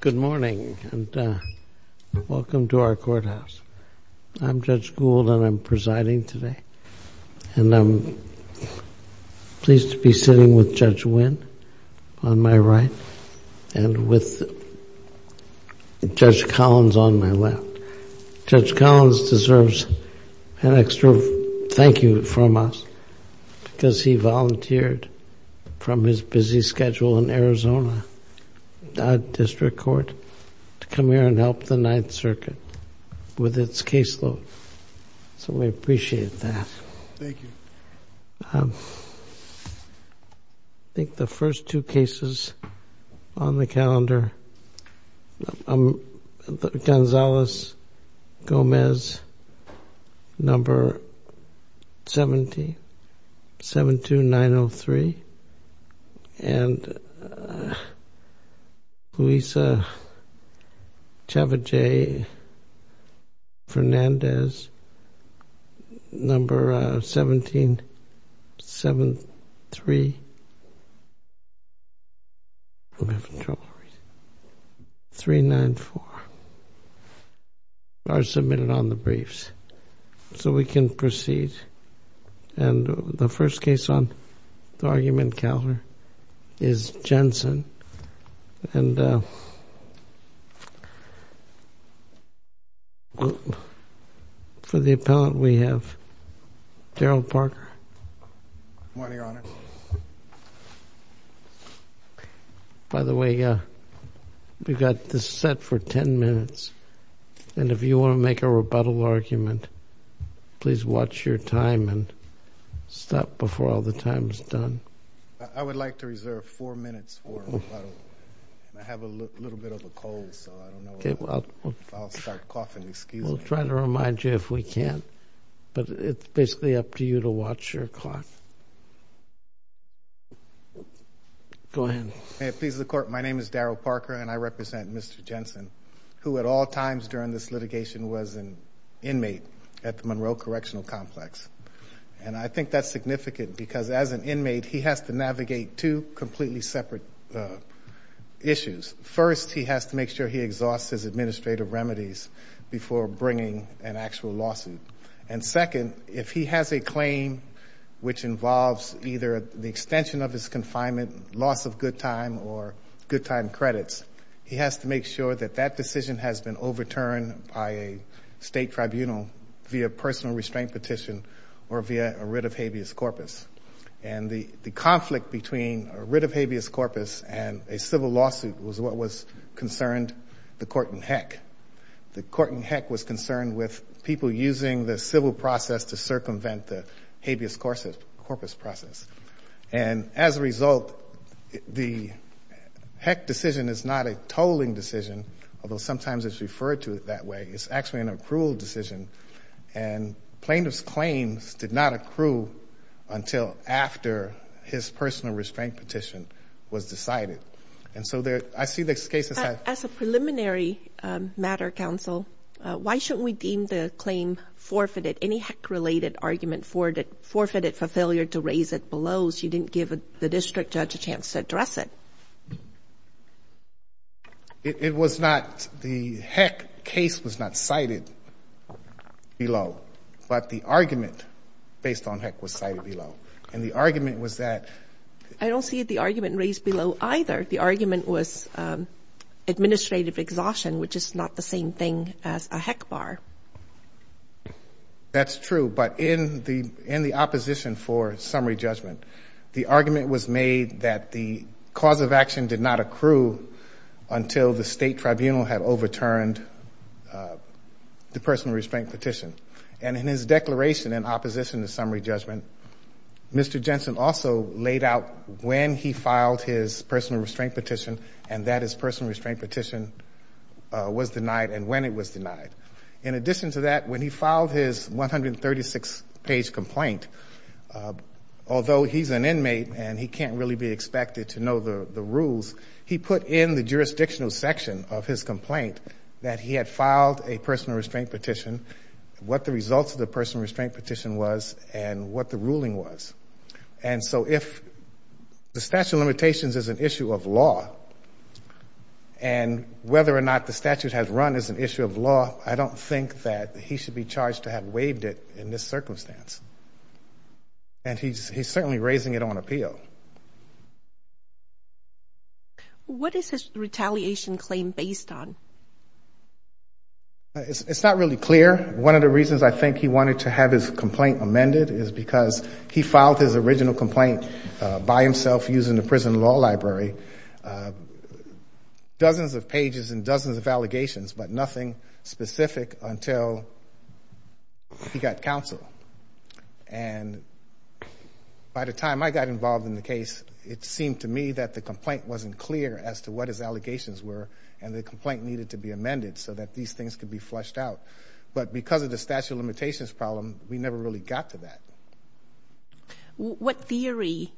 Good morning, and welcome to our courthouse. I'm Judge Gould, and I'm presiding today. And I'm pleased to be sitting with Judge Wynn on my right and with Judge Collins on my left. Judge Collins deserves an extra thank you from us, because he volunteered from his busy schedule in Arizona District Court to come here and help the Ninth Circuit with its caseload. So we appreciate that. Thank you. I think the first two cases on the calendar, Gonzales Gomez, No. 1772903, and Luisa Chaveje Fernandez, No. 1773394. Are submitted on the briefs. So we can proceed. And the first case on the argument calendar is Jensen. And for the appellant, we have Daryl Parker. By the way, we've got this set for 10 minutes. And if you want to make a rebuttal argument, please watch your time and stop before all the time is done. I would like to reserve four minutes for a rebuttal. I have a little bit of a cold, so I don't know if I'll start coughing. We'll try to remind you if we can. But it's basically up to you to watch your clock. Go ahead. May it please the Court. My name is Daryl Parker, and I represent Mr. Jensen, who at all times during this litigation was an inmate at the Monroe Correctional Complex. And I think that's significant, because as an inmate, he has to navigate two completely separate issues. First, he has to make sure he exhausts his administrative remedies before bringing an actual lawsuit. And second, if he has a claim which involves either the extension of his confinement, loss of good time, or good time credits, he has to make sure that that decision has been overturned by a state tribunal via personal restraint petition or via a writ of habeas corpus. And the conflict between a writ of habeas corpus and a civil lawsuit was what was concerned the court in Heck. The court in Heck was concerned with people using the civil process to circumvent the habeas corpus process. And as a result, the Heck decision is not a tolling decision, although sometimes it's referred to it that way. It's actually an accrual decision. And plaintiff's claims did not accrue until after his personal restraint petition was decided. And so I see this case as... As a preliminary matter, counsel, why shouldn't we deem the claim forfeited, any Heck-related argument, forfeited for failure to raise it below so you didn't give the district judge a chance to address it? It was not the Heck case was not cited below, but the argument based on Heck was cited below. And the argument was that... I don't see the argument raised below either. The argument was administrative exhaustion, which is not the same thing as a Heck bar. That's true. But in the opposition for summary judgment, the argument was made that the cause of action did not accrue until the state tribunal had overturned the personal restraint petition. And in his declaration in opposition to summary judgment, Mr. Jensen also laid out when he filed his personal restraint petition and that his personal restraint petition was denied and when it was denied. In addition to that, when he filed his 136-page complaint, although he's an inmate and he can't really be expected to know the rules, he put in the jurisdictional section of his complaint that he had filed a personal restraint petition, what the results of the personal restraint petition was, and what the ruling was. And so if the statute of limitations is an issue of law and whether or not the statute has run as an issue of law, I don't think that he should be charged to have waived it in this circumstance. And he's certainly raising it on appeal. What is his retaliation claim based on? It's not really clear. One of the reasons I think he wanted to have his complaint amended is because he filed his original complaint by himself using the prison law library. Dozens of pages and dozens of allegations, but nothing specific until he got counsel. And by the time I got involved in the case, it seemed to me that the complaint wasn't clear as to what his allegations were and the complaint needed to be amended so that these things could be flushed out. But because of the statute of limitations problem, we never really got to that. What theory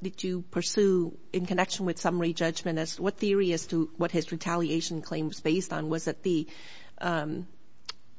did you pursue in connection with summary judgment? What theory as to what his retaliation claim was based on? Was it the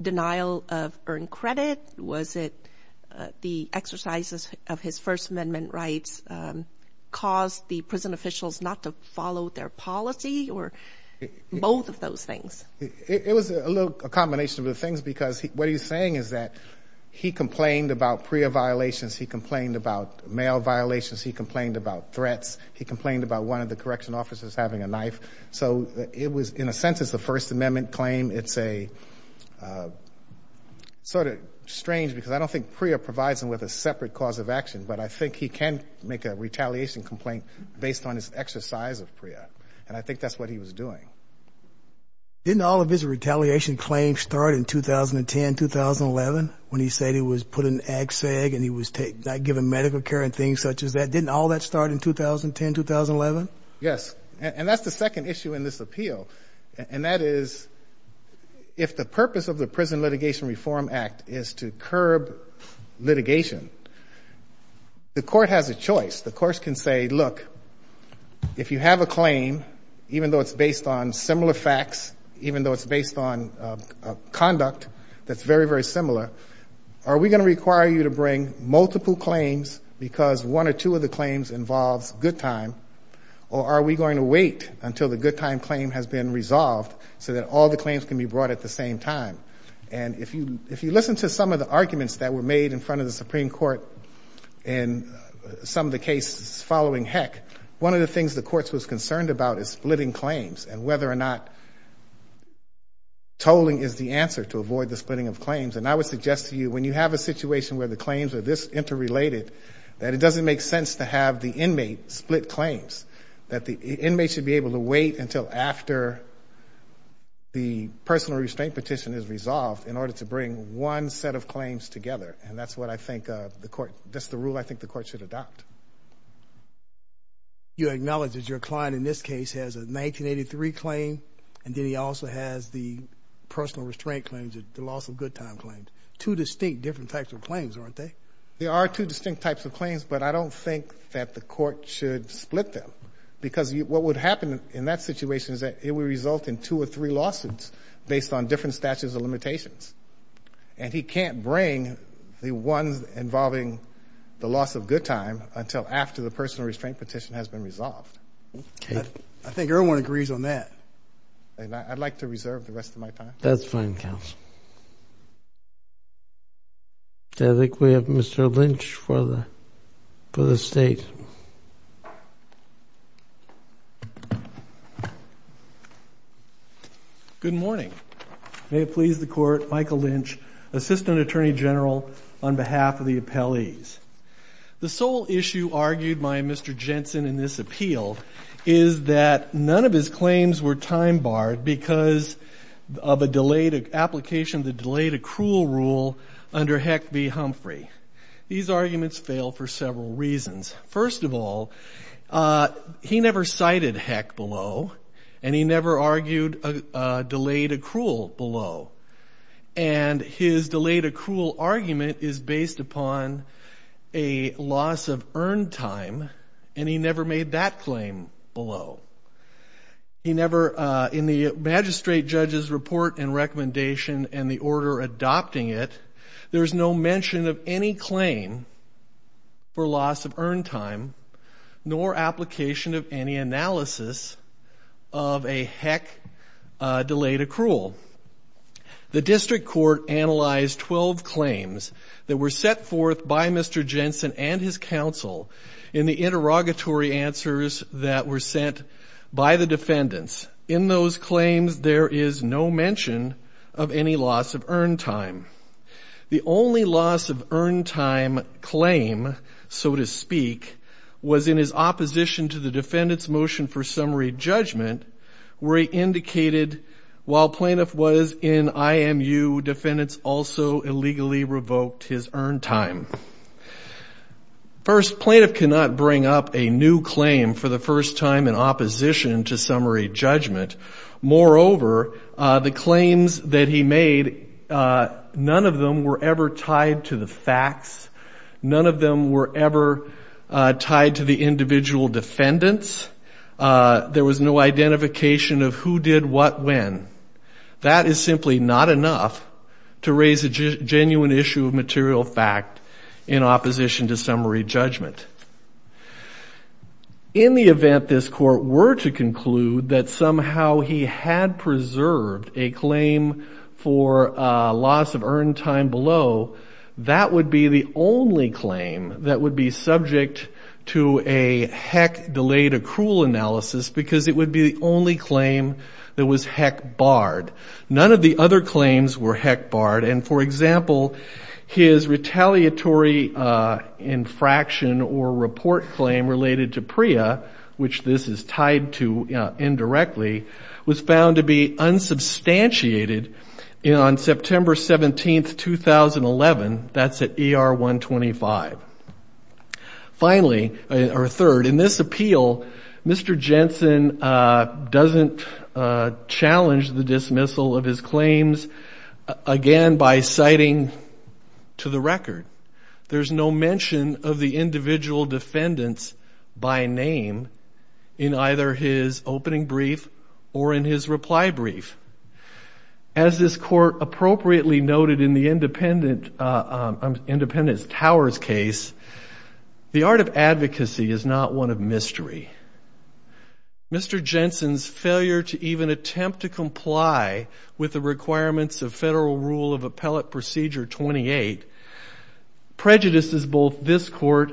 denial of earned credit? Was it the exercises of his First Amendment rights caused the prison officials not to follow their policy or both of those things? It was a little combination of the things because what he's saying is that he complained about PREA violations. He complained about mail violations. He complained about threats. He complained about one of the correction officers having a knife. So it was, in a sense, it's the First Amendment claim. It's sort of strange because I don't think PREA provides him with a separate cause of action, but I think he can make a retaliation complaint based on his exercise of PREA, and I think that's what he was doing. Didn't all of his retaliation claims start in 2010, 2011, when he said he was putting Ag-Seg and he was not given medical care and things such as that? Didn't all that start in 2010, 2011? Yes, and that's the second issue in this appeal, and that is if the purpose of the Prison Litigation Reform Act is to curb litigation, the court has a choice. The court can say, look, if you have a claim, even though it's based on similar facts, even though it's based on conduct that's very, very similar, are we going to require you to bring multiple claims because one or two of the claims involves good time, or are we going to wait until the good time claim has been resolved so that all the claims can be brought at the same time? And if you listen to some of the arguments that were made in front of the Supreme Court in some of the cases following Heck, one of the things the courts was concerned about is splitting claims and whether or not tolling is the answer to avoid the splitting of claims. And I would suggest to you, when you have a situation where the claims are this interrelated, that it doesn't make sense to have the inmate split claims, that the inmate should be able to wait until after the personal restraint petition is resolved in order to bring one set of claims together, and that's what I think the court, that's the rule I think the court should adopt. You acknowledge that your client in this case has a 1983 claim, and then he also has the personal restraint claims, the loss of good time claims, two distinct different types of claims, aren't they? There are two distinct types of claims, but I don't think that the court should split them because what would happen in that situation is that it would result in two or three lawsuits based on different statutes of limitations, and he can't bring the ones involving the loss of good time until after the personal restraint petition has been resolved. I think everyone agrees on that, and I'd like to reserve the rest of my time. That's fine, counsel. I think we have Mr. Lynch for the State. Good morning. May it please the court, Michael Lynch, Assistant Attorney General on behalf of the appellees. The sole issue argued by Mr. Jensen in this appeal is that none of his claims were time barred because of a delayed application, the delayed accrual rule under Heck v. Humphrey. These arguments fail for several reasons. First of all, he never cited Heck below, and he never argued a delayed accrual below, and his delayed accrual argument is based upon a loss of earned time, and he never made that claim below. He never, in the magistrate judge's report and recommendation and the order adopting it, there's no mention of any claim for loss of earned time, nor application of any analysis of a Heck delayed accrual. The district court analyzed 12 claims that were set forth by Mr. Jensen and his counsel in the interrogatory answers that were sent by the defendants. In those claims, there is no mention of any loss of earned time. The only loss of earned time claim, so to speak, was in his opposition to the defendant's motion for summary judgment where he indicated while plaintiff was in IMU, defendants also illegally revoked his earned time. First, plaintiff cannot bring up a new claim for the first time in opposition to summary judgment. Moreover, the claims that he made, none of them were ever tied to the facts. None of them were ever tied to the individual defendants. There was no identification of who did what when. That is simply not enough to raise a genuine issue of material fact in opposition to summary judgment. In the event this court were to conclude that somehow he had preserved a claim for loss of earned time below, that would be the only claim that would be subject to a Heck delayed accrual analysis because it would be the only claim that was Heck barred. None of the other claims were Heck barred. The second or report claim related to PREA, which this is tied to indirectly, was found to be unsubstantiated on September 17th, 2011. That's at ER 125. Third, in this appeal, Mr. Jensen doesn't challenge the dismissal of his claims again by citing to the record. There's no mention of the individual defendants by name in either his opening brief or in his reply brief. As this court appropriately noted in the Independent Towers case, the art of advocacy is not one of mystery. Mr. Jensen's failure to even attempt to comply with the requirements of Federal Rule of Appellate Procedure 28 prejudices both this court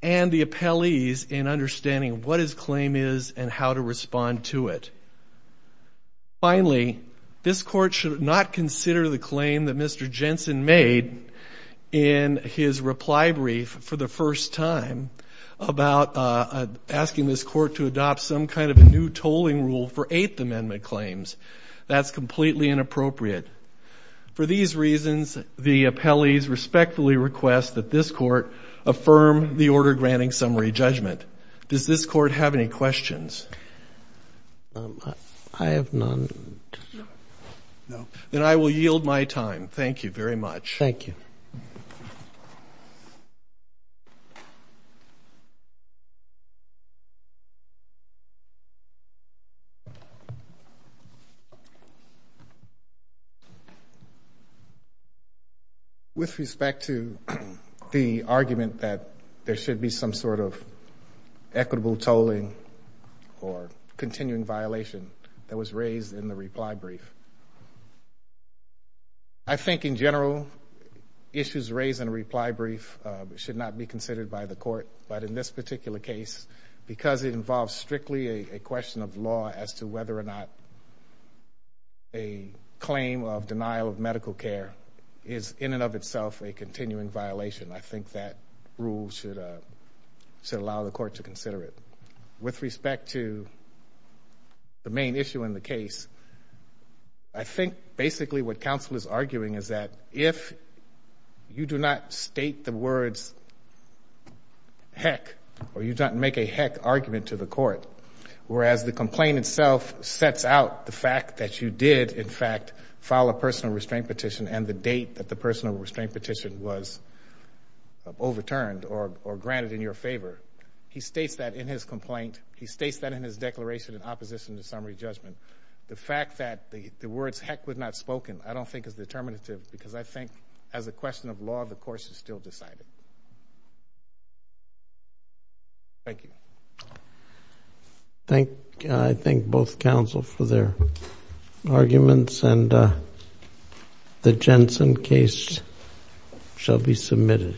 and the appellees in understanding what his claim is and how to respond to it. Finally, this court should not consider the claim that Mr. Jensen made in his reply brief for the first time about asking this court to adopt some kind of a new tolling rule for Eighth Amendment claims. That's completely inappropriate. For these reasons, the appellees respectfully request that this court affirm the order granting summary judgment. Does this court have any questions? I have none. Then I will yield my time. Thank you very much. With respect to the argument that there should be some sort of equitable tolling or continuing violation that was raised in the reply brief, I think in general, issues raised in a reply brief should not be considered by the court. But in this particular case, because it involves strictly a question of law as to whether or not the defendant a claim of denial of medical care is in and of itself a continuing violation, I think that rule should allow the court to consider it. With respect to the main issue in the case, I think basically what counsel is arguing is that if you do not state the words, heck, or you don't make a heck argument to the court, whereas the complaint itself sets out the fact that you did, in fact, file a personal restraint petition and the date that the personal restraint petition was overturned or granted in your favor, he states that in his complaint, he states that in his declaration in opposition to summary judgment. The fact that the words heck were not spoken I don't think is determinative because I think as a question of law, the course is still decided. Thank you. I thank both counsel for their arguments and the Jensen case shall be submitted.